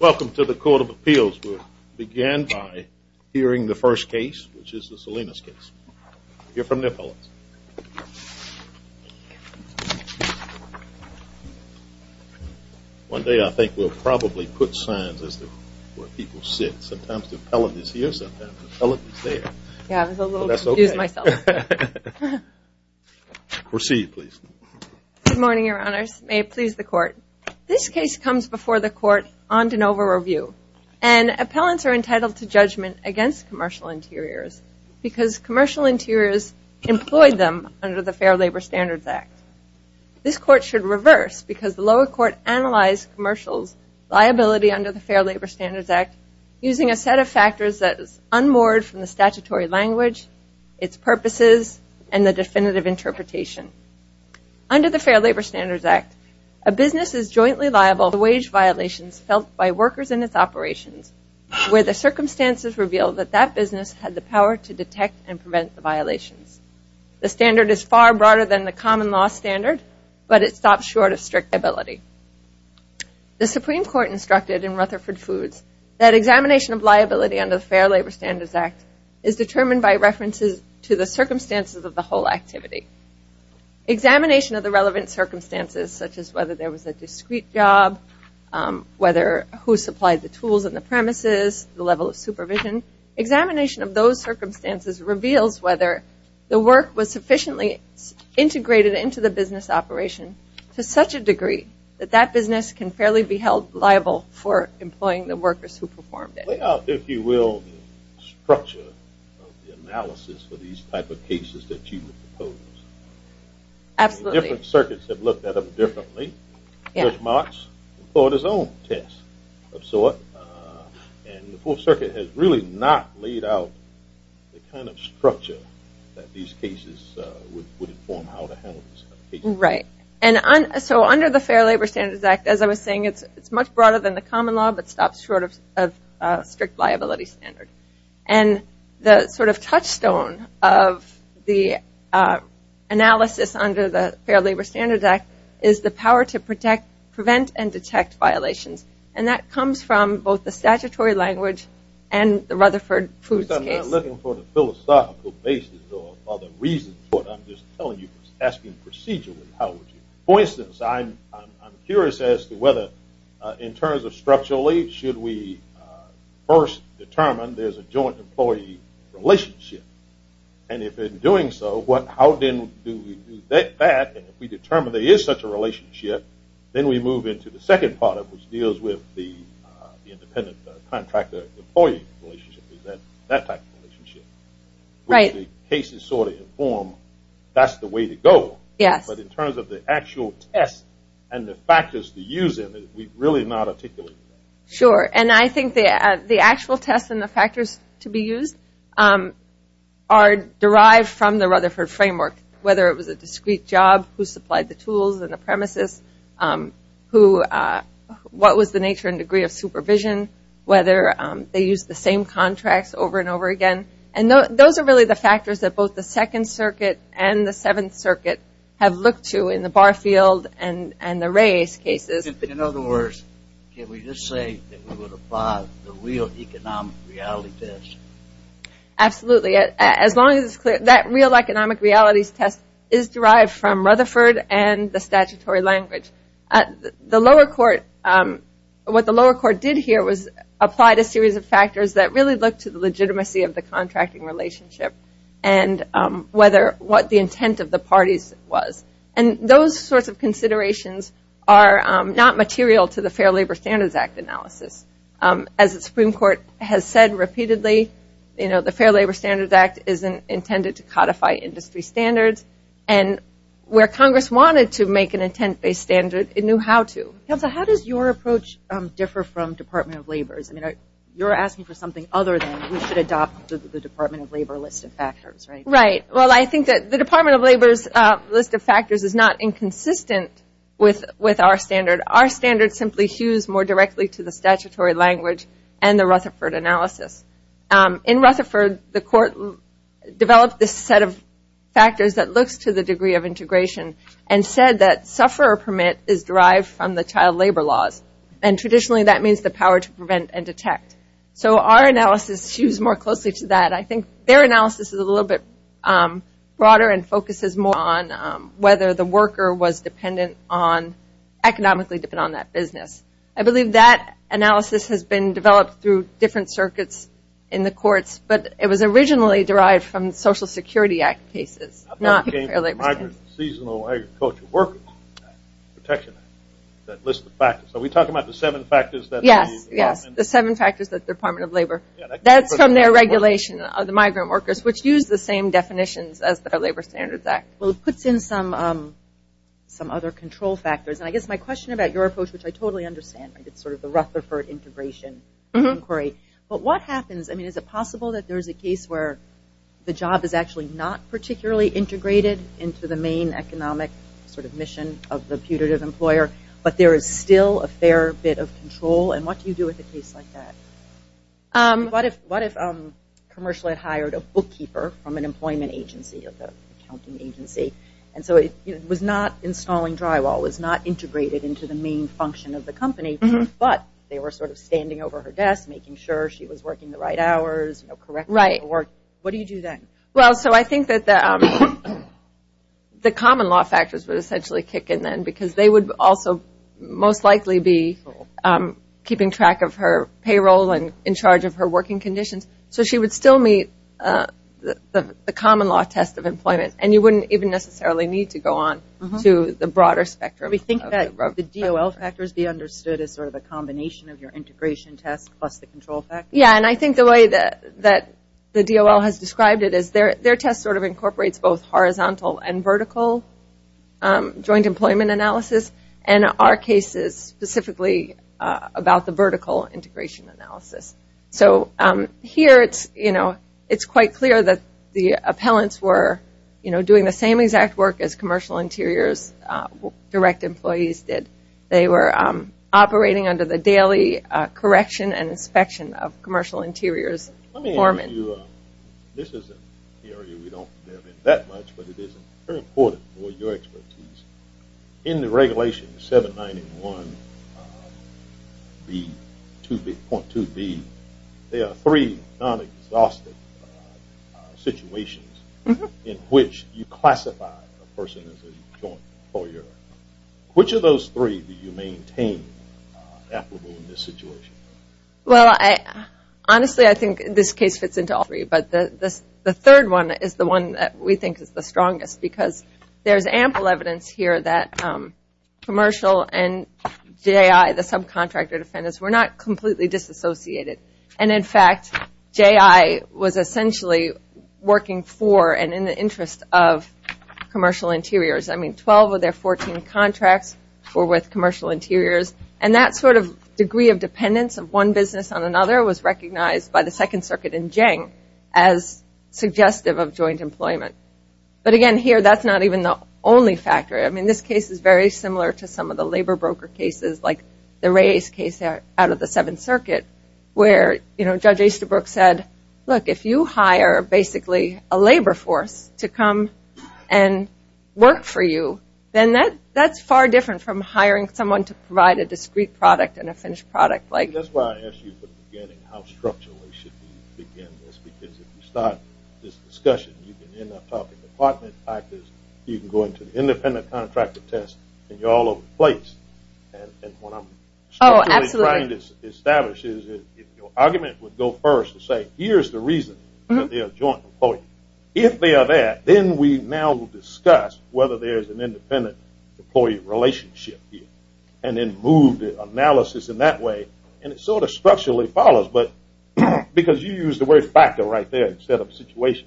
Welcome to the Court of Appeals. We'll begin by hearing the first case, which is the Salinas case. We'll hear from the appellants. One day I think we'll probably put signs as to where people sit. Sometimes the appellant is here, sometimes the appellant is there. Yeah, I was a little confused myself. Proceed, please. Good morning, Your Honors. May it please the Court. This case comes before the Court on de novo review, and appellants are entitled to judgment against commercial interiors because commercial interiors employed them under the Fair Labor Standards Act. This Court should reverse because the lower court analyzed commercial's liability under the Fair Labor Standards Act using a set of factors that is unmoored from the statutory language, its purposes, and the definitive interpretation. Under the Fair Labor Standards Act, a business is jointly liable for wage violations felt by workers in its operations where the circumstances reveal that that business had the power to detect and prevent the violations. The standard is far broader than the common law standard, but it stops short of strict liability. The Supreme Court instructed in Rutherford Foods that examination of liability under the Fair Labor Standards Act is determined by references to the circumstances of the whole activity. Examination of the relevant circumstances, such as whether there was a discrete job, whether who supplied the tools and the premises, the level of supervision, examination of those circumstances reveals whether the work was sufficiently integrated into the business operation to such a degree that that business can fairly be held liable for employing the workers who performed it. Lay out, if you will, the structure of the analysis for these type of cases that you would propose. Absolutely. Different circuits have looked at them differently. Judge Marks employed his own test of sort. And the Fourth Circuit has really not laid out the kind of structure that these cases would inform how to handle these cases. Right. So under the Fair Labor Standards Act, as I was saying, it's much broader than the common law, but stops short of strict liability standard. And the sort of touchstone of the analysis under the Fair Labor Standards Act is the power to prevent and detect violations. And that comes from both the statutory language and the Rutherford Foods case. I'm not looking for the philosophical basis or other reasons, but I'm just telling you, asking procedurally how would you. For instance, I'm curious as to whether in terms of structurally, should we first determine there's a joint employee relationship? And if in doing so, how then do we do that? And if we determine there is such a relationship, then we move into the second part of it, which deals with the independent contractor-employee relationship, that type of relationship. Right. Which the cases sort of inform that's the way to go. Yes. But in terms of the actual test and the factors to use in it, we've really not articulated that. Sure. And I think the actual test and the factors to be used are derived from the Rutherford framework, whether it was a discrete job, who supplied the tools and the premises, what was the nature and degree of supervision, whether they used the same contracts over and over again. And those are really the factors that both the Second Circuit and the Seventh Circuit have looked to in the Barfield and the Reyes cases. In other words, can we just say that we would apply the real economic reality test? Absolutely. As long as it's clear that real economic realities test is derived from Rutherford and the statutory language. The lower court, what the lower court did here was apply a series of factors that really look to the legitimacy of the contracting relationship and whether what the intent of the parties was. And those sorts of considerations are not material to the Fair Labor Standards Act analysis. As the Supreme Court has said repeatedly, the Fair Labor Standards Act is intended to codify industry standards. And where Congress wanted to make an intent-based standard, it knew how to. Counsel, how does your approach differ from Department of Labor's? I mean, you're asking for something other than we should adopt the Department of Labor list of factors, right? Right. Well, I think that the Department of Labor's list of factors is not inconsistent with our standard. Our standard simply hews more directly to the statutory language and the Rutherford analysis. In Rutherford, the court developed this set of factors that looks to the degree of integration and said that sufferer permit is derived from the child labor laws. And traditionally, that means the power to prevent and detect. So our analysis hews more closely to that. I think their analysis is a little bit broader and focuses more on whether the worker was dependent on, economically dependent on that business. I believe that analysis has been developed through different circuits in the courts, but it was originally derived from Social Security Act cases, not Fair Labor Standards. Seasonal Agricultural Workers Protection Act, that list of factors. Are we talking about the seven factors? Yes, yes, the seven factors that the Department of Labor. That's from their regulation of the migrant workers, which use the same definitions as the Labor Standards Act. Well, it puts in some other control factors. And I guess my question about your approach, which I totally understand, it's sort of the Rutherford integration inquiry. But what happens? I mean, is it possible that there is a case where the job is actually not particularly integrated into the main economic sort of mission of the putative employer, but there is still a fair bit of control? And what do you do with a case like that? What if Commercial had hired a bookkeeper from an employment agency, an accounting agency, and so it was not installing drywall, it was not integrated into the main function of the company, but they were sort of standing over her desk making sure she was working the right hours, correcting her work. What do you do then? Well, so I think that the common law factors would essentially kick in then because they would also most likely be keeping track of her payroll and in charge of her working conditions. So she would still meet the common law test of employment, and you wouldn't even necessarily need to go on to the broader spectrum. We think that the DOL factors be understood as sort of a combination of your integration test plus the control factors. Yeah, and I think the way that the DOL has described it is their test sort of incorporates both horizontal and vertical joint employment analysis, and our case is specifically about the vertical integration analysis. So here it's quite clear that the appellants were doing the same exact work as commercial interiors, direct employees did. They were operating under the daily correction and inspection of commercial interiors. Let me ask you, this is an area we don't have in that much, but it is very important for your expertise. In the regulation 791.2b, there are three non-exhaustive situations in which you classify a person as a joint employer. Which of those three do you maintain applicable in this situation? Well, honestly, I think this case fits into all three, but the third one is the one that we think is the strongest, because there's ample evidence here that commercial and J.I., the subcontractor defendants, were not completely disassociated. And in fact, J.I. was essentially working for and in the interest of commercial interiors. I mean, 12 of their 14 contracts were with commercial interiors, and that sort of degree of dependence of one business on another was recognized by the Second Circuit in Jiang as suggestive of joint employment. But again, here, that's not even the only factor. I mean, this case is very similar to some of the labor broker cases, like the Reyes case out of the Seventh Circuit, where Judge Easterbrook said, look, if you hire basically a labor force to come and work for you, then that's far different from hiring someone to provide a discrete product and a finished product. That's why I asked you at the beginning how structurally we should begin this, because if you start this discussion, you can end up talking department factors, you can go into the independent contractor test, and you're all over the place. And what I'm structurally trying to establish is if your argument would go first and say here's the reason for their joint employment, if they are there, then we now discuss whether there's an independent employee relationship here, and then move the analysis in that way. And it sort of structurally follows, because you used the word factor right there instead of situation.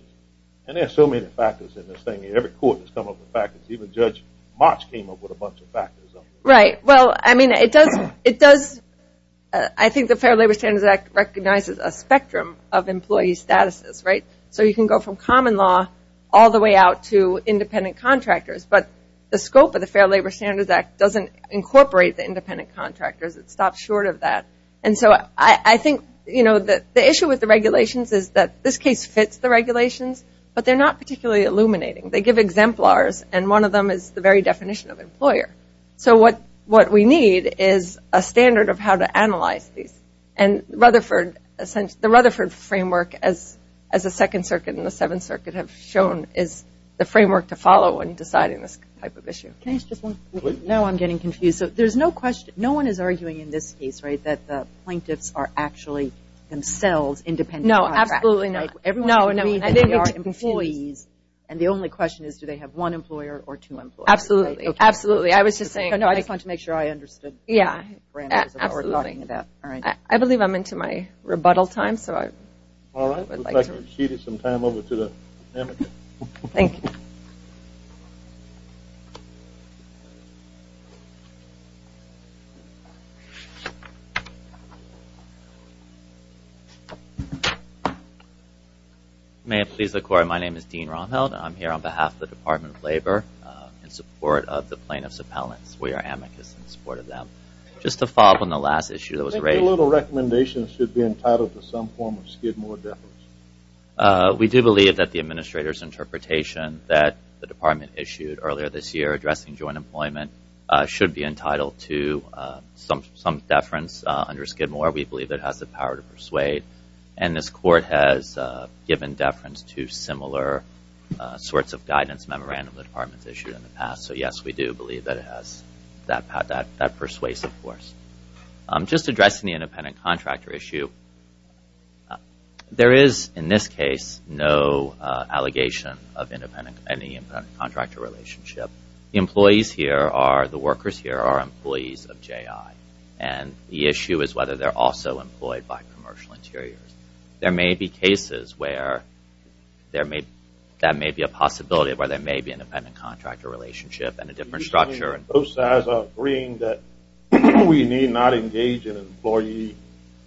And there are so many factors in this thing. Every court has come up with factors. Even Judge March came up with a bunch of factors. Right. Well, I mean, it does – I think the Fair Labor Standards Act recognizes a spectrum of employee statuses, right? So you can go from common law all the way out to independent contractors. But the scope of the Fair Labor Standards Act doesn't incorporate the independent contractors. It stops short of that. And so I think, you know, the issue with the regulations is that this case fits the regulations, but they're not particularly illuminating. They give exemplars, and one of them is the very definition of employer. So what we need is a standard of how to analyze these. And Rutherford – the Rutherford framework, as the Second Circuit and the Seventh Circuit have shown, is the framework to follow in deciding this type of issue. Can I just – no, I'm getting confused. There's no question – no one is arguing in this case, right, that the plaintiffs are actually themselves independent contractors. No, absolutely not. Right? No, no. I didn't mean to confuse you. And the only question is, do they have one employer or two employers? Absolutely. I was just saying – No, I just wanted to make sure I understood. Yeah. Absolutely. I believe I'm into my rebuttal time, so I would like to – All right. Looks like we've exceeded some time. Over to the amicus. Thank you. May it please the Court. My name is Dean Romheld. I'm here on behalf of the Department of Labor in support of the plaintiffs' appellants. We are amicus in support of them. Just to follow up on the last issue that was raised – I think a little recommendation should be entitled to some form of Skidmore deference. We do believe that the Administrator's interpretation that the Department issued earlier this year addressing joint employment should be entitled to some deference under Skidmore. We believe it has the power to persuade. And this Court has given deference to similar sorts of guidance memorandum the Department's issued in the past. So, yes, we do believe that it has that persuasive force. Just addressing the independent contractor issue. There is, in this case, no allegation of any independent contractor relationship. The employees here are – the workers here are employees of JI. And the issue is whether they're also employed by Commercial Interiors. There may be cases where there may – that may be a possibility where there may be an independent contractor relationship and a different structure. Both sides are agreeing that we need not engage in employee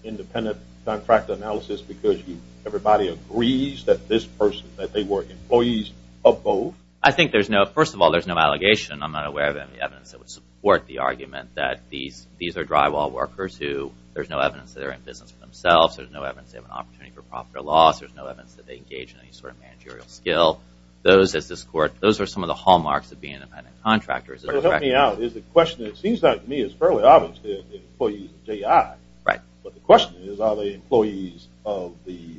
independent contractor analysis because everybody agrees that this person – that they were employees of both. I think there's no – first of all, there's no allegation. I'm not aware of any evidence that would support the argument that these are drywall workers who – there's no evidence they have an opportunity for profit or loss. There's no evidence that they engage in any sort of managerial skill. Those, as this Court – those are some of the hallmarks of being independent contractors. So, help me out. Is the question – it seems like to me it's fairly obvious that they're employees of JI. Right. But the question is, are they employees of the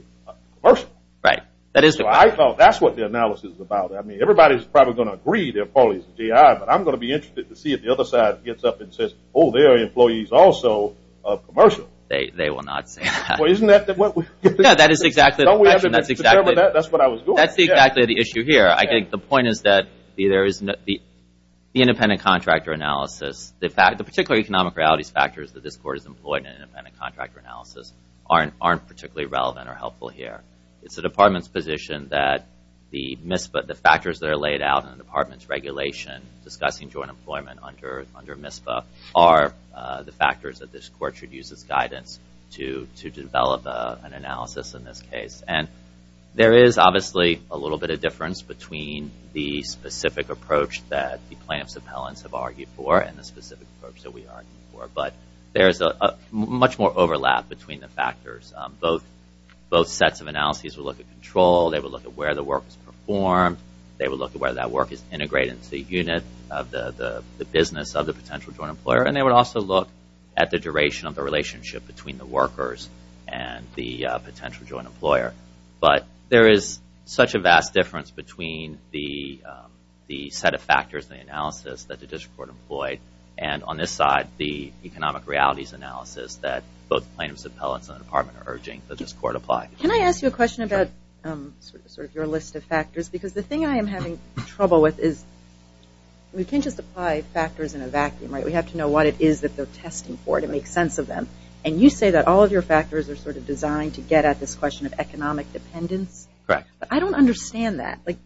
commercial? Right. That is the question. So, I thought that's what the analysis is about. I mean, everybody's probably going to agree they're probably JI, but I'm going to be interested to see if the other side gets up and says, oh, they're employees also of commercial. They will not say that. Well, isn't that – No, that is exactly the question. That's exactly – That's what I was going to say. That's exactly the issue here. I think the point is that the independent contractor analysis – the particular economic realities factors that this Court has employed in an independent contractor analysis aren't particularly relevant or helpful here. It's the Department's position that the MISPA – the factors that are laid out in the Department's regulation discussing joint employment under MISPA are the factors that this Court should use as guidance to develop an analysis in this case. And there is obviously a little bit of difference between the specific approach that the plaintiff's appellants have argued for and the specific approach that we argue for. But there is much more overlap between the factors. Both sets of analyses will look at control. They will look at where the work is performed. They will look at whether that work is integrated into the unit of the business of the potential joint employer. And they will also look at the duration of the relationship between the workers and the potential joint employer. But there is such a vast difference between the set of factors in the analysis that the District Court employed and, on this side, the economic realities analysis that both plaintiffs' appellants and the Department are urging that this Court apply. Can I ask you a question about sort of your list of factors? Because the thing I am having trouble with is we can't just apply factors in a vacuum, right? We have to know what it is that they're testing for to make sense of them. And you say that all of your factors are sort of designed to get at this question of economic dependence. Correct. But I don't understand that. Like,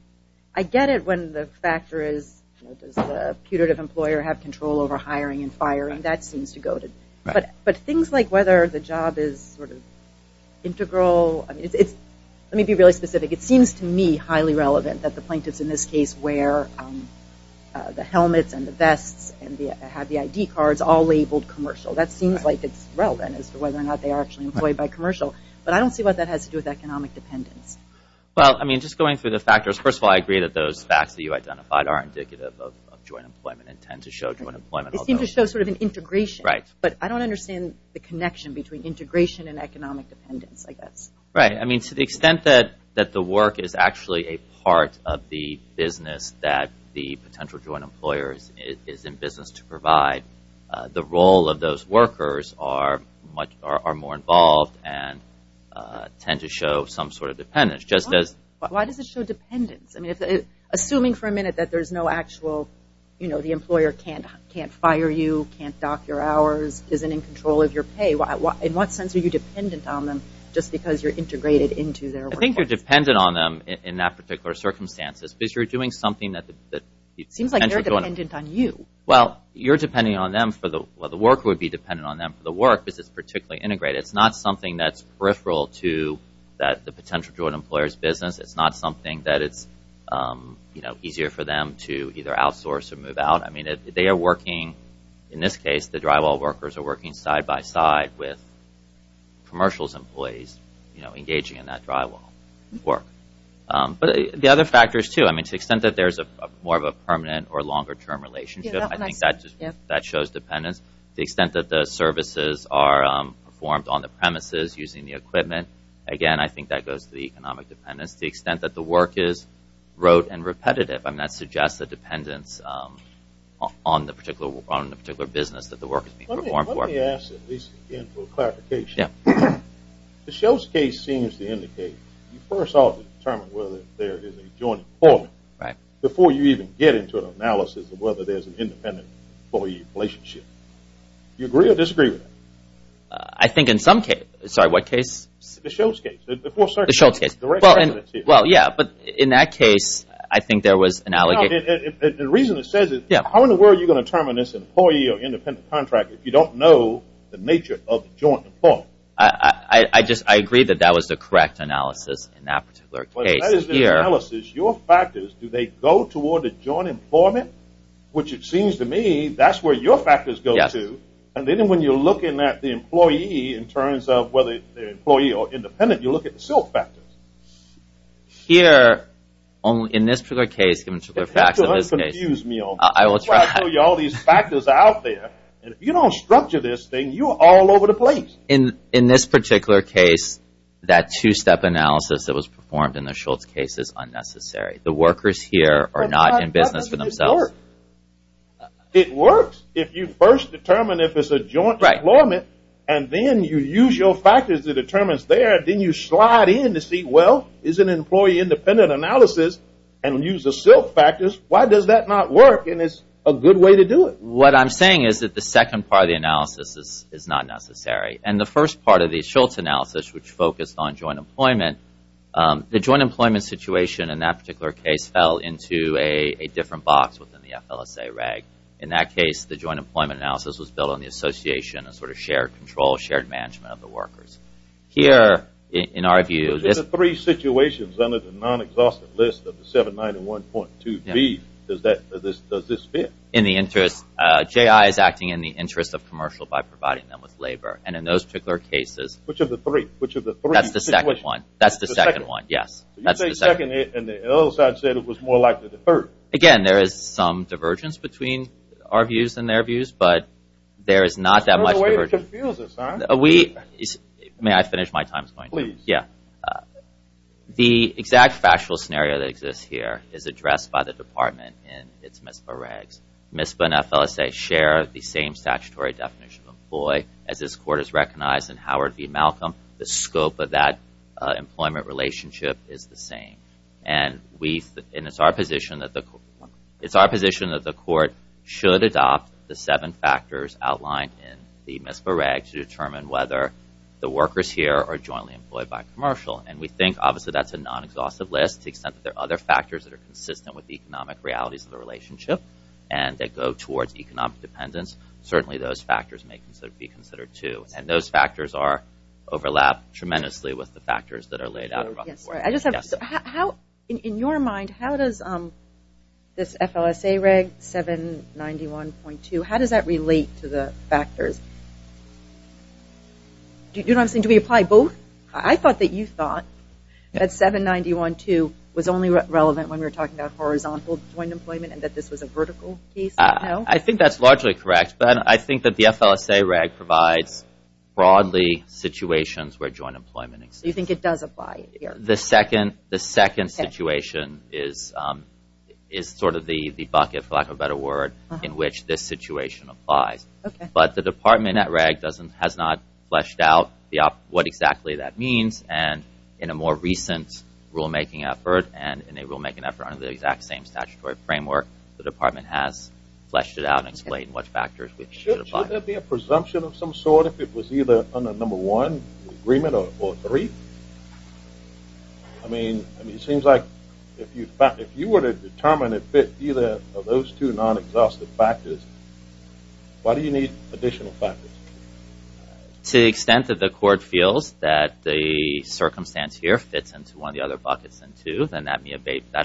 I get it when the factor is does the putative employer have control over hiring and firing. That seems to go to – Right. But things like whether the job is sort of integral, I mean, let me be really specific. It seems to me highly relevant that the plaintiffs in this case wear the helmets and the vests and have the ID cards all labeled commercial. That seems like it's relevant as to whether or not they are actually employed by commercial. But I don't see what that has to do with economic dependence. Well, I mean, just going through the factors, first of all, I agree that those facts that you identified are indicative of joint employment and tend to show joint employment. It seems to show sort of an integration. Right. But I don't understand the connection between integration and economic dependence, I guess. Right. I mean, to the extent that the work is actually a part of the business that the potential joint employer is in business to provide, the role of those workers are more involved and tend to show some sort of dependence. Why does it show dependence? I mean, assuming for a minute that there's no actual, you know, the employer can't fire you, can't dock your hours, isn't in control of your pay, in what sense are you dependent on them just because you're integrated into their workforce? I think you're dependent on them in that particular circumstance. It's because you're doing something that the potential joint employer. It seems like they're dependent on you. Well, you're depending on them for the work would be dependent on them for the work because it's particularly integrated. It's not something that's peripheral to the potential joint employer's business. It's not something that it's, you know, easier for them to either outsource or move out. I mean, they are working, in this case, the drywall workers are working side by side with commercials employees, you know, engaging in that drywall work. But the other factors, too, I mean, to the extent that there's more of a permanent or longer term relationship, I think that shows dependence. The extent that the services are performed on the premises using the equipment, again, I think that goes to the economic dependence. The extent that the work is rote and repetitive, I mean, that suggests a dependence on the particular business that the work is being performed for. Let me ask, at least again, for a clarification. Yeah. The Shoals case seems to indicate you first ought to determine whether there is a joint employment. Right. Before you even get into an analysis of whether there's an independent employee relationship. Do you agree or disagree with that? I think in some case. Sorry, what case? The Shoals case. The Shoals case. The Shoals case. Well, yeah, but in that case, I think there was an allegation. The reason it says it, how in the world are you going to determine this employee or independent contract if you don't know the nature of the joint employment? I just agree that that was the correct analysis in that particular case. That is the analysis. Your factors, do they go toward the joint employment? Which it seems to me, that's where your factors go to. And then when you're looking at the employee in terms of whether they're employee or independent, you look at the Silk factors. Here, in this particular case, given the facts of this case. Don't confuse me on that. I will try. I'll show you all these factors out there. And if you don't structure this thing, you're all over the place. In this particular case, that two-step analysis that was performed in the Shoals case is unnecessary. The workers here are not in business for themselves. How does this work? It works if you first determine if it's a joint employment. And then you use your factors to determine there. Then you slide in to see, well, is it an employee independent analysis? And use the Silk factors. Why does that not work? And it's a good way to do it. What I'm saying is that the second part of the analysis is not necessary. And the first part of the Shoals analysis, which focused on joint employment, the joint employment situation in that particular case fell into a different box within the FLSA reg. In that case, the joint employment analysis was built on the association and sort of shared control, shared management of the workers. Here, in our view, this is a three situations under the non-exhaustive list of the 791.2b. Does this fit? In the interest, J.I. is acting in the interest of commercial by providing them with labor. And in those particular cases, Which of the three? That's the second one. That's the second one, yes. You say second, and the other side said it was more likely the third. Again, there is some divergence between our views and their views, but there is not that much divergence. May I finish my time? Please. Yeah. The exact factual scenario that exists here is addressed by the department in its MISPA regs. MISPA and FLSA share the same statutory definition of employee, as this court has recognized in Howard v. Malcolm. The scope of that employment relationship is the same. And it's our position that the court should adopt the seven factors outlined in the MISPA reg to determine whether the workers here are jointly employed by commercial. And we think, obviously, that's a non-exhaustive list to the extent that there are other factors that are consistent with the economic realities of the relationship and that go towards economic dependence. Certainly, those factors may be considered, too. And those factors overlap tremendously with the factors that are laid out. In your mind, how does this FLSA reg, 791.2, how does that relate to the factors? Do we apply both? I thought that you thought that 791.2 was only relevant when we were talking about horizontal joint employment and that this was a vertical case. I think that's largely correct. But I think that the FLSA reg provides broadly situations where joint employment exists. You think it does apply here? The second situation is sort of the bucket, for lack of a better word, in which this situation applies. But the department at reg has not fleshed out what exactly that means. And in a more recent rulemaking effort and in a rulemaking effort under the exact same statutory framework, the department has fleshed it out and explained what factors we should apply. Should there be a presumption of some sort if it was either under number one agreement or three? I mean, it seems like if you were to determine if either of those two non-exhaustive factors, why do you need additional factors? To the extent that the court feels that the circumstance here fits into one of the other buckets than two, then that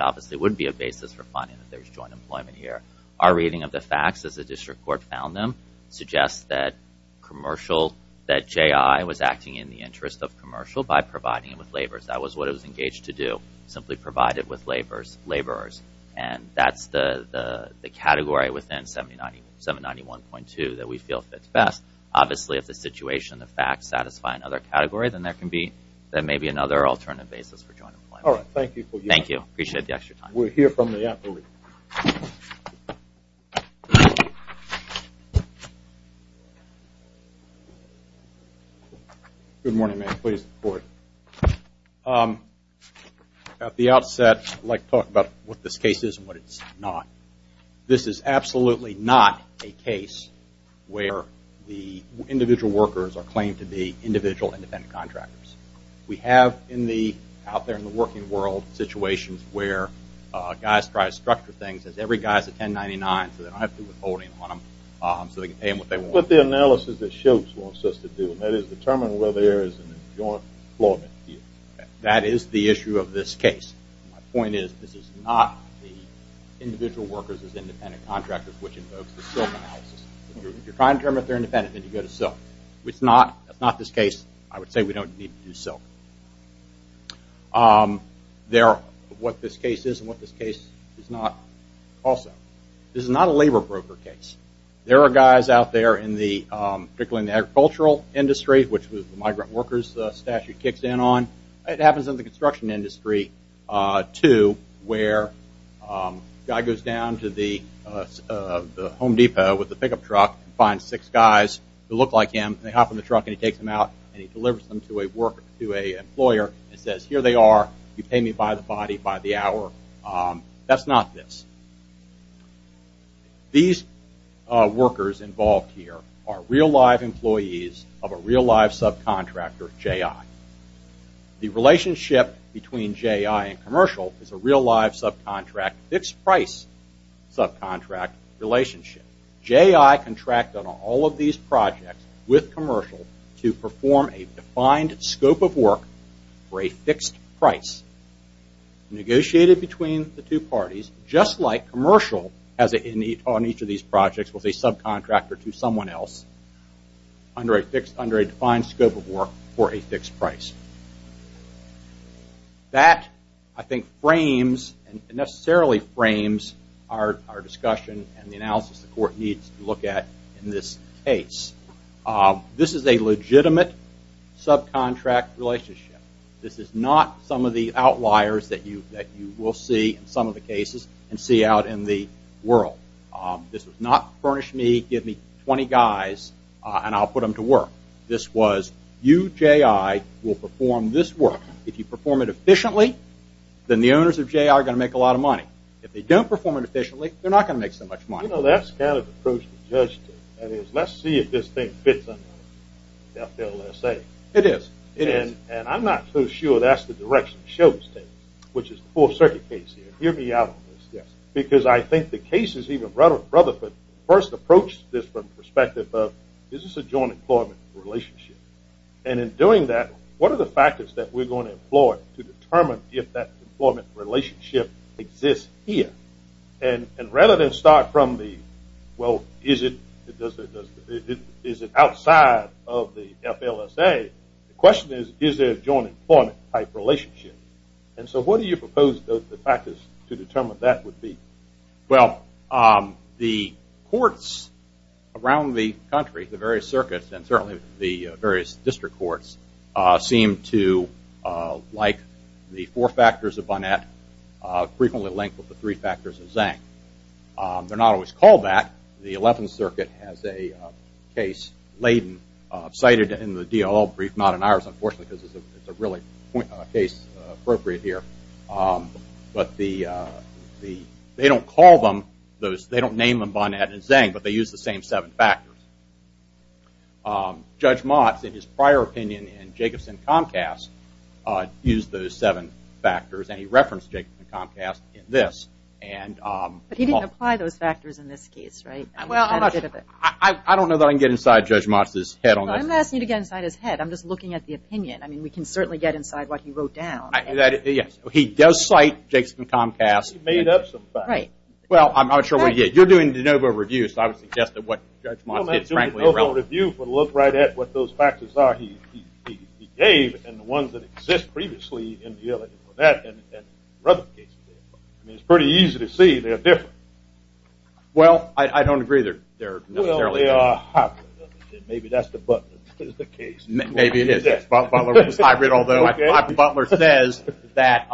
obviously would be a basis for finding that there's joint employment here. Our reading of the facts as the district court found them suggests that commercial, that JI was acting in the interest of commercial by providing it with laborers. That was what it was engaged to do, simply provide it with laborers. And that's the category within 791.2 that we feel fits best. Obviously, if the situation, the facts, satisfy another category, then there may be another alternative basis for joint employment. All right. Thank you for your time. Thank you. I appreciate the extra time. We'll hear from the attorney. Good morning, ma'am. Please, go ahead. At the outset, I'd like to talk about what this case is and what it's not. This is absolutely not a case where the individual workers are claimed to be individual independent contractors. We have, out there in the working world, situations where guys try to structure things. Every guy's a 1099, so they don't have to do withholding on them, so they can pay them what they want. But the analysis that SHOPES wants us to do, and that is determine whether there is a joint employment here. That is the issue of this case. My point is this is not the individual workers as independent contractors, which invokes the SILK analysis. If you're trying to determine if they're independent, then you go to SILK. That's not this case. I would say we don't need to do SILK. What this case is and what this case is not, also. This is not a labor broker case. There are guys out there, particularly in the agricultural industry, which the migrant workers statute kicks in on. It happens in the construction industry, too, where a guy goes down to the Home Depot with a pickup truck and finds six guys who look like him. They hop in the truck and he takes them out and he delivers them to an employer and says, here they are, you pay me by the body by the hour. That's not this. These workers involved here are real live employees of a real live subcontractor, J.I. The relationship between J.I. and commercial is a real live subcontract, fixed price subcontract relationship. J.I. contracted on all of these projects with commercial to perform a defined scope of work for a fixed price. Negotiated between the two parties, just like commercial on each of these projects was a subcontractor to someone else under a defined scope of work for a fixed price. That, I think, frames and necessarily frames our discussion and the analysis the court needs to look at in this case. This is a legitimate subcontract relationship. This is not some of the outliers that you will see in some of the cases and see out in the world. This was not furnish me, give me 20 guys and I'll put them to work. This was you, J.I., will perform this work. If you perform it efficiently, then the owners of J.I. are going to make a lot of money. If they don't perform it efficiently, they're not going to make so much money. You know, that's kind of the approach the judge took. That is, let's see if this thing fits under the FLSA. It is. It is. And I'm not so sure that's the direction it shows, which is the full circuit case here. Hear me out on this. Yes. Because I think the cases, even Rutherford, first approached this from the perspective of, is this a joint employment relationship? And in doing that, what are the factors that we're going to employ to determine if that employment relationship exists here? And rather than start from the, well, is it outside of the FLSA, the question is, is there a joint employment type relationship? And so what do you propose the factors to determine that would be? Well, the courts around the country, the various circuits and certainly the various district courts, seem to like the four factors of Bonnet frequently linked with the three factors of Zank. They're not always called that. The Eleventh Circuit has a case laden, cited in the DOL brief, not in ours, unfortunately, because it's a really case appropriate here. But they don't call them, they don't name them Bonnet and Zank, but they use the same seven factors. Judge Motz, in his prior opinion in Jacobson Comcast, used those seven factors, and he referenced Jacobson Comcast in this. But he didn't apply those factors in this case, right? I don't know that I can get inside Judge Motz's head on this. I'm not asking you to get inside his head. I'm just looking at the opinion. I mean, we can certainly get inside what he wrote down. He does cite Jacobson Comcast. He made up some facts. Well, I'm not sure what he did. You're doing de novo reviews, so I would suggest that what Judge Motz did, frankly, is relevant. Well, that's a de novo review for the look right at what those factors are he gave, and the ones that exist previously in the Eleventh Circuit. I mean, it's pretty easy to see they're different. Well, I don't agree that they're necessarily different. Well, they are hybrid. Maybe that's the case. Maybe it is. Butler says that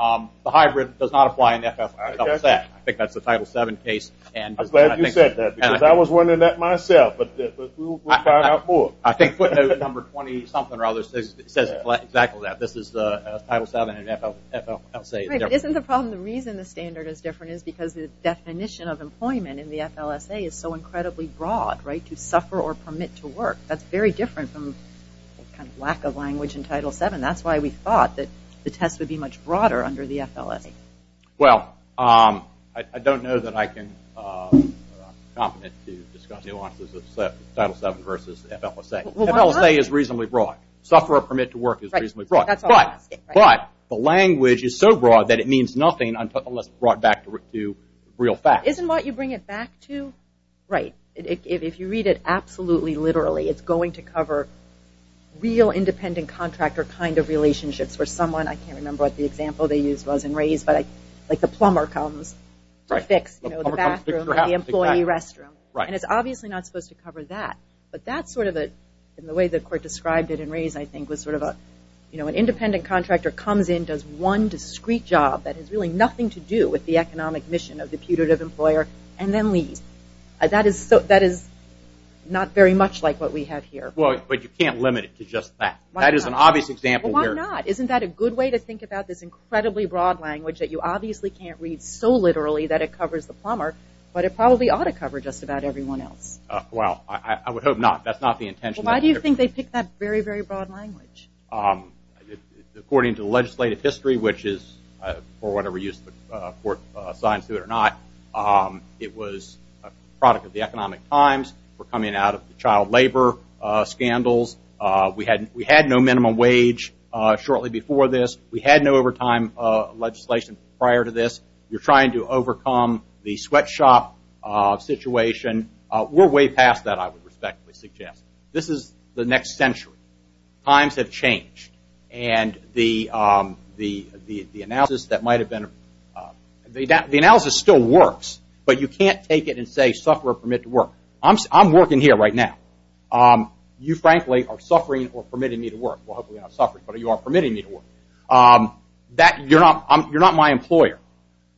the hybrid does not apply in the FFL case. I think that's the Title VII case. I'm glad you said that because I was wondering that myself, but we'll find out more. I think footnote number 20-something or other says exactly that. This is the Title VII and FLSA. Isn't the problem the reason the standard is different is because the definition of employment in the FLSA is so incredibly broad, right, to suffer or permit to work. That's very different from kind of lack of language in Title VII. That's why we thought that the test would be much broader under the FLSA. Well, I don't know that I can comment to discuss nuances of Title VII versus FLSA. FLSA is reasonably broad. Suffer or permit to work is reasonably broad. But the language is so broad that it means nothing unless brought back to real facts. Isn't what you bring it back to, right, if you read it absolutely literally, it's going to cover real independent contractor kind of relationships for someone. I can't remember what the example they used was in Rays, but like the plumber comes to fix the bathroom or the employee restroom, and it's obviously not supposed to cover that. But that's sort of the way the court described it in Rays I think was sort of an independent contractor comes in, does one discreet job that has really nothing to do with the economic mission of the putative employer, and then leaves. That is not very much like what we have here. Well, but you can't limit it to just that. That is an obvious example. Well, why not? Isn't that a good way to think about this incredibly broad language that you obviously can't read so literally that it covers the plumber, but it probably ought to cover just about everyone else. Well, I would hope not. That's not the intention. Well, why do you think they picked that very, very broad language? According to legislative history, which is for whatever use the court assigns to it or not, it was a product of the economic times. We're coming out of the child labor scandals. We had no minimum wage shortly before this. We had no overtime legislation prior to this. You're trying to overcome the sweatshop situation. We're way past that, I would respectfully suggest. This is the next century. Times have changed. The analysis still works, but you can't take it and say suffer or permit to work. I'm working here right now. You, frankly, are suffering or permitting me to work. Well, hopefully not suffering, but you are permitting me to work. You're not my employer.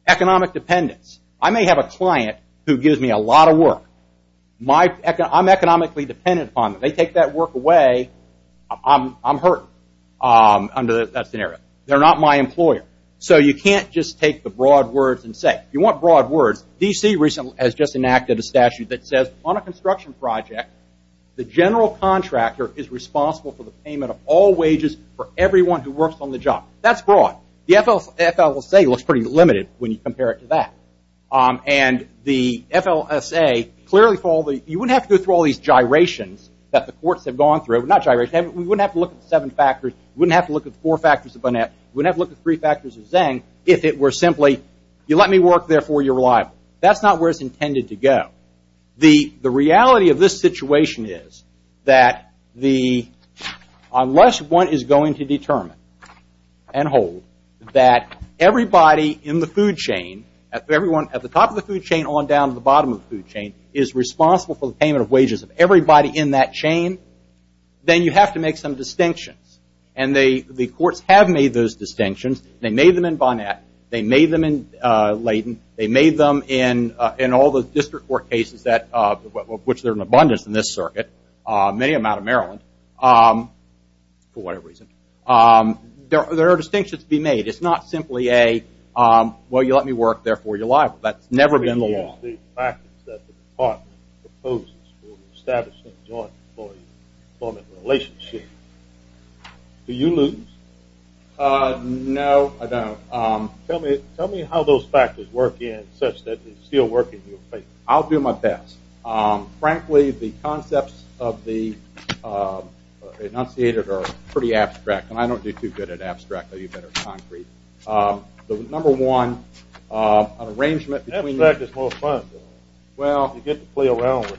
Economic dependence. I may have a client who gives me a lot of work. I'm economically dependent upon them. They take that work away, I'm hurting under that scenario. They're not my employer. So you can't just take the broad words and say. If you want broad words, D.C. recently has just enacted a statute that says on a construction project, the general contractor is responsible for the payment of all wages for everyone who works on the job. That's broad. The FLSA looks pretty limited when you compare it to that. And the FLSA, clearly, you wouldn't have to go through all these gyrations that the courts have gone through. We wouldn't have to look at seven factors. We wouldn't have to look at four factors of Bonnet. We wouldn't have to look at three factors of Zeng if it were simply you let me work, therefore you're reliable. That's not where it's intended to go. The reality of this situation is that unless one is going to determine and hold that everybody in the food chain, everyone at the top of the food chain on down to the bottom of the food chain, is responsible for the payment of wages of everybody in that chain, then you have to make some distinctions. And the courts have made those distinctions. They made them in Bonnet. They made them in Layton. They made them in all the district court cases, which there are an abundance in this circuit, many of them out of Maryland, for whatever reason. There are distinctions to be made. It's not simply a, well, you let me work, therefore you're reliable. That's never been the law. The practice that the department proposes for establishing joint employment relationships, do you lose? No, I don't. Tell me how those factors work in such that they still work in your case. I'll do my best. Frankly, the concepts of the enunciated are pretty abstract, and I don't do too good at abstract. I do better at concrete. The number one, an arrangement between the- Abstract is more fun. You get to play around with it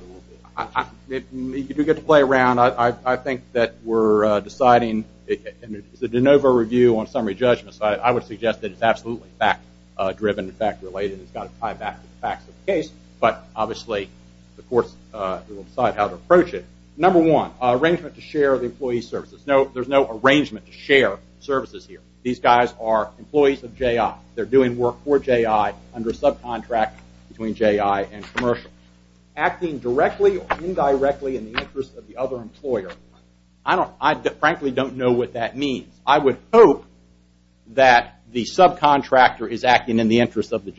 a little bit. You do get to play around. I think that we're deciding, and it's a de novo review on summary judgments. I would suggest that it's absolutely fact-driven, fact-related. It's got to tie back to the facts of the case, but obviously the courts will decide how to approach it. Number one, arrangement to share the employee services. There's no arrangement to share services here. These guys are employees of J.I. They're doing work for J.I. under a subcontract between J.I. and commercial. Acting directly or indirectly in the interest of the other employer. I frankly don't know what that means. I would hope that the subcontractor is acting in the interest of the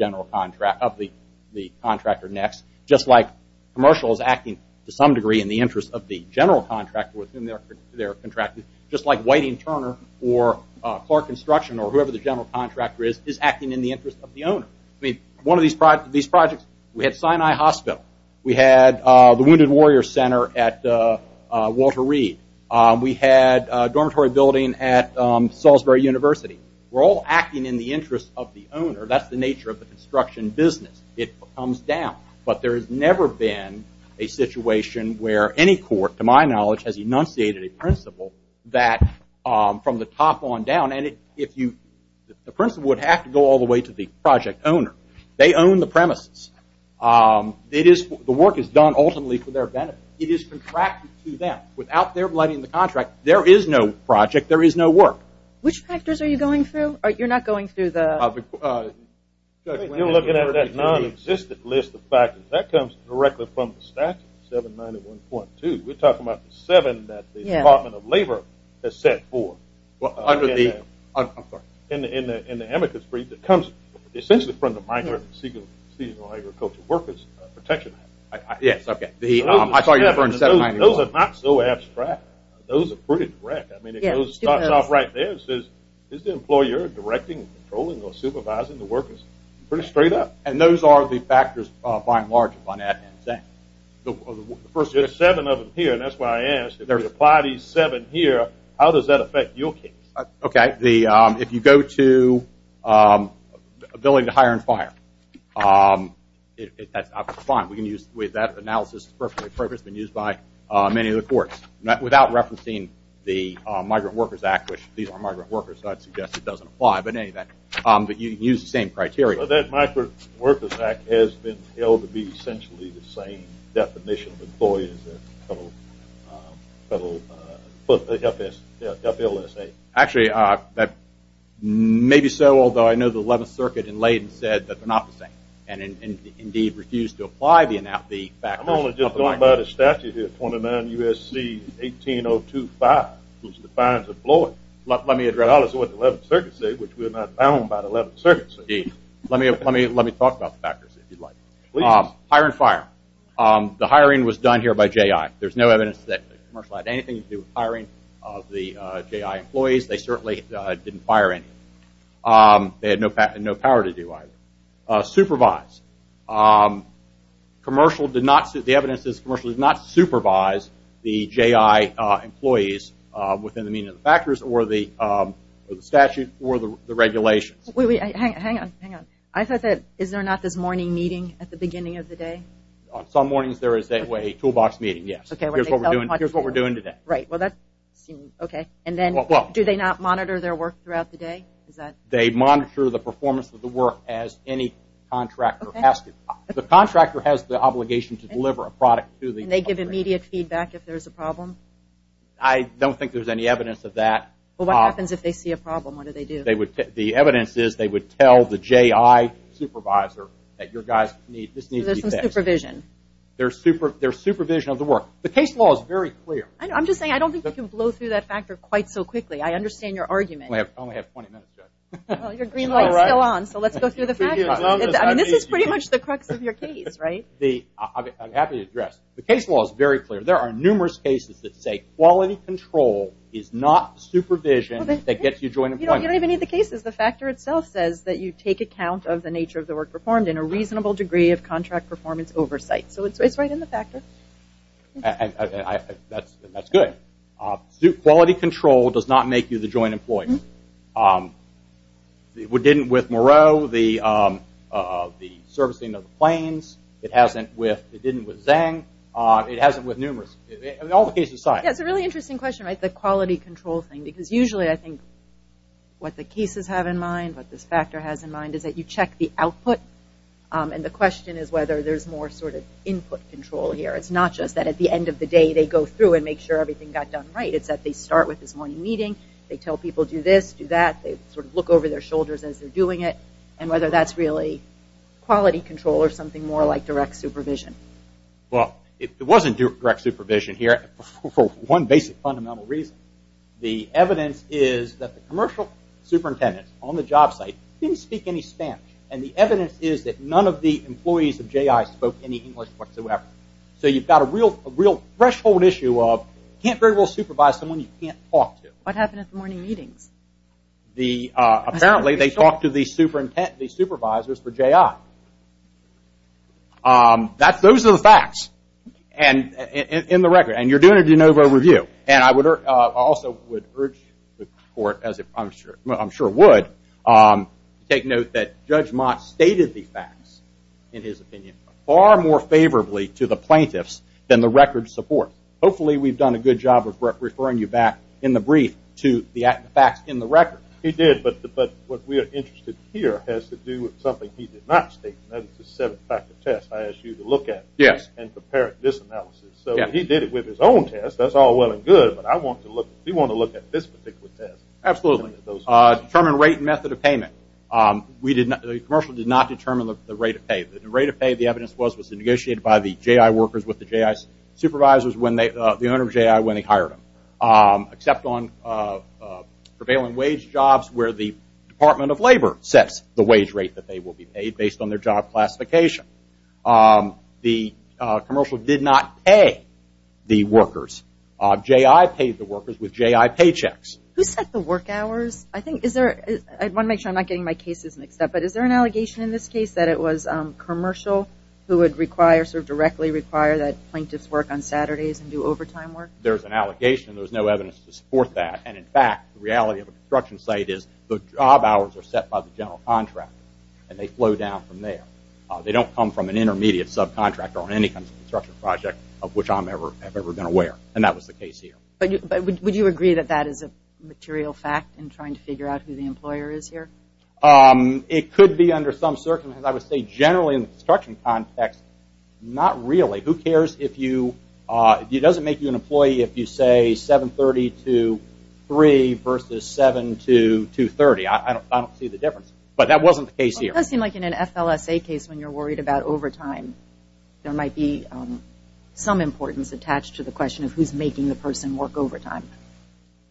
contractor next, just like commercial is acting to some degree in the interest of the general contractor with whom they're contracted, just like Whiting-Turner or Clark Construction or whoever the general contractor is, is acting in the interest of the owner. I mean, one of these projects, we had Sinai Hospital. We had the Wounded Warrior Center at Walter Reed. We had a dormitory building at Salisbury University. We're all acting in the interest of the owner. That's the nature of the construction business. It comes down, but there has never been a situation where any court, to my knowledge, has enunciated a principle that from the top on down, the principle would have to go all the way to the project owner. They own the premises. The work is done ultimately for their benefit. It is contracted to them. Without their blood in the contract, there is no project. There is no work. Which factors are you going through? You're not going through the... You're looking at a non-existent list of factors. That comes directly from the statute, 791.2. We're talking about the seven that the Department of Labor has set forth. I'm sorry. In the amicus brief, it comes essentially from the minor seasonal agricultural workers protection act. Yes, okay. I thought you were referring to 791. Those are not so abstract. Those are pretty direct. It starts off right there. It says, is the employer directing, controlling, or supervising the workers? Pretty straight up. And those are the factors, by and large, on that exact. The first seven of them here, and that's why I asked, if you apply these seven here, how does that affect your case? Okay. If you go to ability to hire and fire, that's fine. We can use that analysis. It's perfectly purposeful. It's been used by many of the courts. Without referencing the Migrant Workers Act, which these are migrant workers, so I'd suggest it doesn't apply. But you can use the same criteria. Well, that Migrant Workers Act has been held to be essentially the same definition of employees as the federal FLSA. Actually, maybe so, although I know the 11th Circuit in Layton said that they're not the same and, indeed, refused to apply the factors. I'm only just going by the statute here, 29 U.S.C. 18025, which defines employer. Let me address what the 11th Circuit said, which we're not bound by the 11th Circuit. Let me talk about the factors, if you'd like. Hire and fire. The hiring was done here by J.I. There's no evidence that the commercial had anything to do with hiring of the J.I. employees. They certainly didn't fire anyone. They had no power to do either. Supervise. The evidence is the commercial did not supervise the J.I. employees within the meaning of the factors or the statute or the regulations. Hang on. Hang on. I thought that, is there not this morning meeting at the beginning of the day? Some mornings there is a toolbox meeting, yes. Here's what we're doing today. Right. Well, that seems okay. And then do they not monitor their work throughout the day? They monitor the performance of the work as any contractor has to. The contractor has the obligation to deliver a product to the employer. And they give immediate feedback if there's a problem? I don't think there's any evidence of that. Well, what happens if they see a problem? What do they do? The evidence is they would tell the J.I. supervisor that your guys need to be fixed. So there's some supervision. There's supervision of the work. The case law is very clear. I'm just saying I don't think you can blow through that factor quite so quickly. I understand your argument. We only have 20 minutes, Judge. Well, your green light is still on, so let's go through the factors. This is pretty much the crux of your case, right? I'm happy to address. The case law is very clear. There are numerous cases that say quality control is not supervision that gets you joint employment. You don't even need the cases. The factor itself says that you take account of the nature of the work performed in a reasonable degree of contract performance oversight. So it's right in the factor. That's good. Quality control does not make you the joint employer. It didn't with Moreau, the servicing of the planes. It hasn't with Zhang. It hasn't with numerous. All the cases aside. That's a really interesting question, the quality control thing. Because usually I think what the cases have in mind, what this factor has in mind, is that you check the output. And the question is whether there's more sort of input control here. It's not just that at the end of the day they go through and make sure everything got done right. It's that they start with this morning meeting. They tell people do this, do that. They sort of look over their shoulders as they're doing it and whether that's really quality control or something more like direct supervision. Well, it wasn't direct supervision here for one basic fundamental reason. The evidence is that the commercial superintendent on the job site didn't speak any Spanish. And the evidence is that none of the employees of J.I. spoke any English whatsoever. So you've got a real threshold issue of you can't very well supervise someone you can't talk to. What happened at the morning meetings? Apparently they talked to the supervisors for J.I. Those are the facts in the record. And you're doing a de novo review. And I also would urge the court, as I'm sure would, to take note that Judge Mott stated the facts, in his opinion, far more favorably to the plaintiffs than the record support. Hopefully we've done a good job of referring you back in the brief to the facts in the record. He did, but what we are interested here has to do with something he did not state. That is the seven-factor test I asked you to look at and prepare this analysis. So he did it with his own test. That's all well and good, but we want to look at this particular test. Absolutely. Determine rate and method of payment. The commercial did not determine the rate of pay. The rate of pay, the evidence was, was negotiated by the J.I. workers with the J.I. supervisors, the owner of J.I., when they hired them. Except on prevailing wage jobs where the Department of Labor sets the wage rate that they will be paid based on their job classification. The commercial did not pay the workers. J.I. paid the workers with J.I. paychecks. Who set the work hours? I think, is there, I want to make sure I'm not getting my cases mixed up, but is there an allegation in this case that it was commercial who would require, sort of directly require that plaintiffs work on Saturdays and do overtime work? There's an allegation. There's no evidence to support that. And, in fact, the reality of the construction site is the job hours are set by the general contractor and they flow down from there. They don't come from an intermediate subcontractor or any kind of construction project of which I'm ever, have ever been aware. And that was the case here. But would you agree that that is a material fact in trying to figure out who the employer is here? It could be under some circumstances. I would say generally in the construction context, not really. Who cares if you, if it doesn't make you an employee if you say 7.30 to 3.00 versus 7.00 to 2.30. I don't see the difference. But that wasn't the case here. It does seem like in an FLSA case when you're worried about overtime, there might be some importance attached to the question of who's making the person work overtime.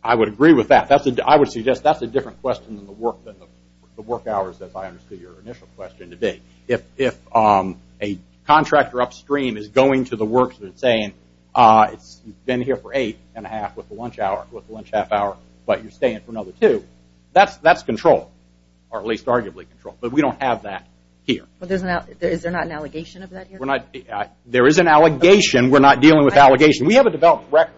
I would agree with that. I would suggest that's a different question than the work hours, as I understood your initial question to be. If a contractor upstream is going to the works and saying, you've been here for eight and a half with the lunch hour, with the lunch half hour, but you're staying for another two, that's control, or at least arguably control. But we don't have that here. Is there not an allegation of that here? There is an allegation. We're not dealing with allegations. We have a developed record.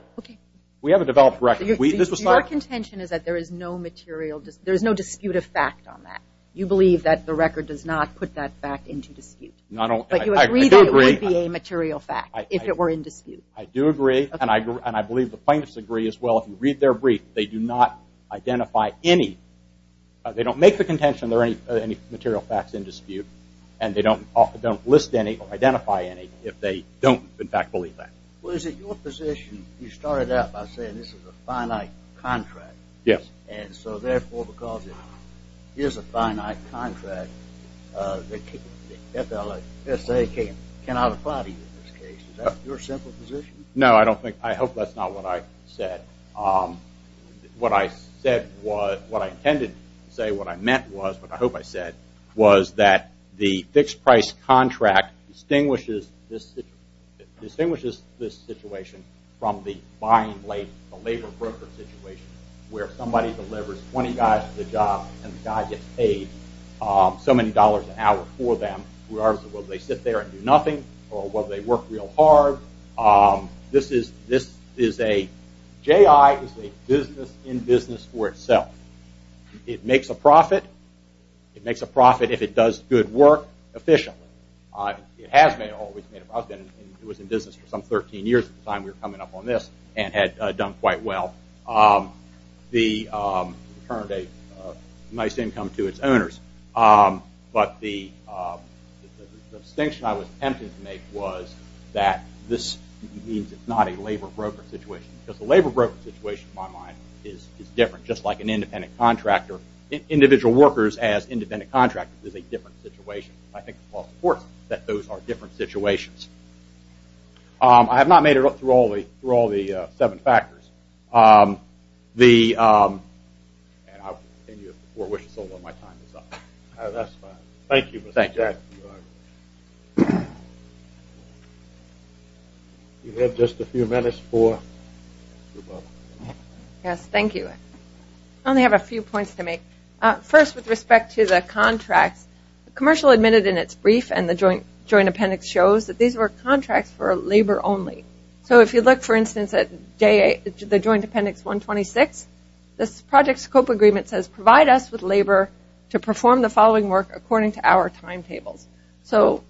We have a developed record. Your contention is that there is no dispute of fact on that. You believe that the record does not put that fact into dispute. I do agree. But you agree that it wouldn't be a material fact if it were in dispute. I do agree, and I believe the plaintiffs agree as well. If you read their brief, they do not identify any. They don't make the contention there are any material facts in dispute, and they don't list any or identify any if they don't, in fact, believe that. Well, is it your position, you started out by saying this is a finite contract. Yes. And so, therefore, because it is a finite contract, the FLSA cannot apply to you in this case. Is that your simple position? No, I don't think. I hope that's not what I said. What I said was, what I intended to say, what I meant was, what I hope I said was that the fixed price contract distinguishes this situation from the buying late, the labor broker situation where somebody delivers 20 guys a job and the guy gets paid so many dollars an hour for them. Whether they sit there and do nothing or whether they work real hard, this is a, J.I. is a business in business for itself. It makes a profit. It makes a profit if it does good work efficiently. It has made a profit. It was in business for some 13 years at the time we were coming up on this and had done quite well. It turned a nice income to its owners. But the distinction I was attempting to make was that this means it's not a labor broker situation because the labor broker situation, in my mind, is different. Just like an independent contractor, individual workers as independent contractors is a different situation. I think the law supports that those are different situations. I have not made it up through all the seven factors. I'll continue if the floor wishes, although my time is up. That's fine. Thank you, Mr. Jack. You have just a few minutes for? Yes, thank you. I only have a few points to make. First, with respect to the contracts, the commercial admitted in its brief and the joint appendix shows that these were contracts for labor only. So if you look, for instance, at the joint appendix 126, this project scope agreement says, provide us with labor to perform the following work according to our timetables. So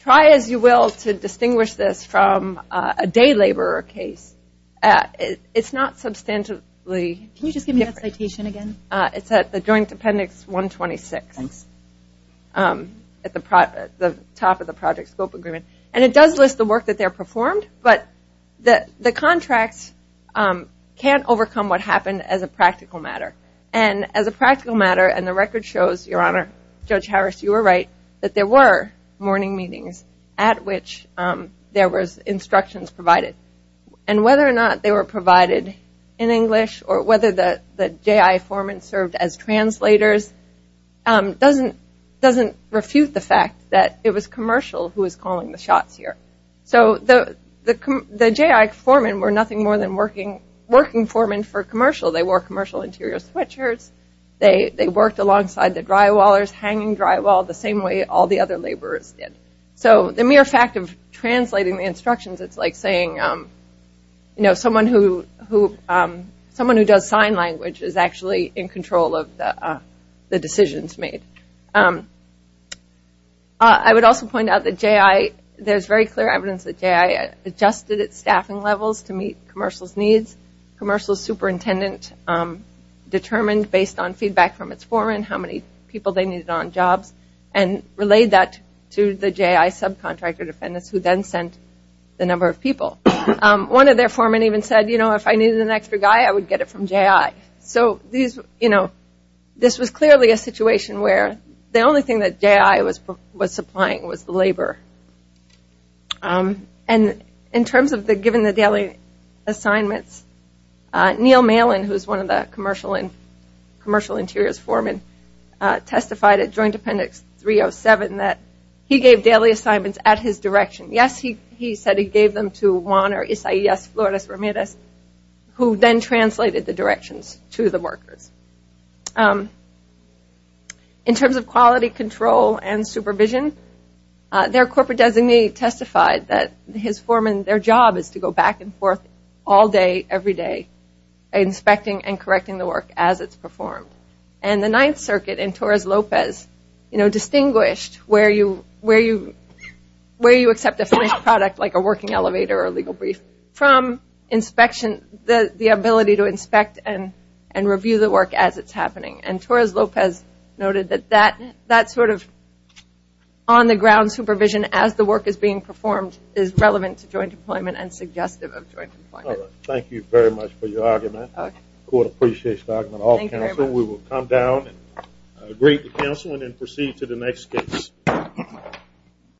try, as you will, to distinguish this from a day laborer case. It's not substantially different. Can you just give me that citation again? It's at the joint appendix 126 at the top of the project scope agreement. And it does list the work that they performed, but the contracts can't overcome what happened as a practical matter. And as a practical matter, and the record shows, Your Honor, Judge Harris, you were right, that there were morning meetings at which there was instructions provided. And whether or not they were provided in English or whether the J.I. Foreman served as translators doesn't refute the fact that it was commercial who was calling the shots here. So the J.I. Foreman were nothing more than working foreman for commercial. They wore commercial interior sweatshirts. They worked alongside the drywallers hanging drywall the same way all the other laborers did. So the mere fact of translating the instructions, it's like saying, you know, someone who does sign language is actually in control of the decisions made. I would also point out that J.I. There's very clear evidence that J.I. adjusted its staffing levels to meet commercial's needs. Commercial superintendent determined based on feedback from its foreman how many people they needed on jobs and relayed that to the J.I. subcontractor defendants who then sent the number of people. One of their foremen even said, you know, if I needed an extra guy, I would get it from J.I. So this was clearly a situation where the only thing that J.I. was supplying was the labor. And in terms of giving the daily assignments, Neil Malin, who is one of the commercial interiors foreman, testified at Joint Appendix 307 that he gave daily assignments at his direction. Yes, he said he gave them to Wanner, Isaias, Flores, Ramirez, who then translated the directions to the workers. In terms of quality control and supervision, their corporate designee testified that his foreman, their job is to go back and forth all day, every day, inspecting and correcting the work as it's performed. And the Ninth Circuit in Torres Lopez, you know, distinguished where you accept a finished product, like a working elevator or a legal brief, from the ability to inspect and review the work as it's happening. And Torres Lopez noted that that sort of on-the-ground supervision as the work is being performed is relevant to joint employment and suggestive of joint employment. Thank you very much for your argument. Court appreciates the argument of all counsel. We will come down and greet the counsel and then proceed to the next case.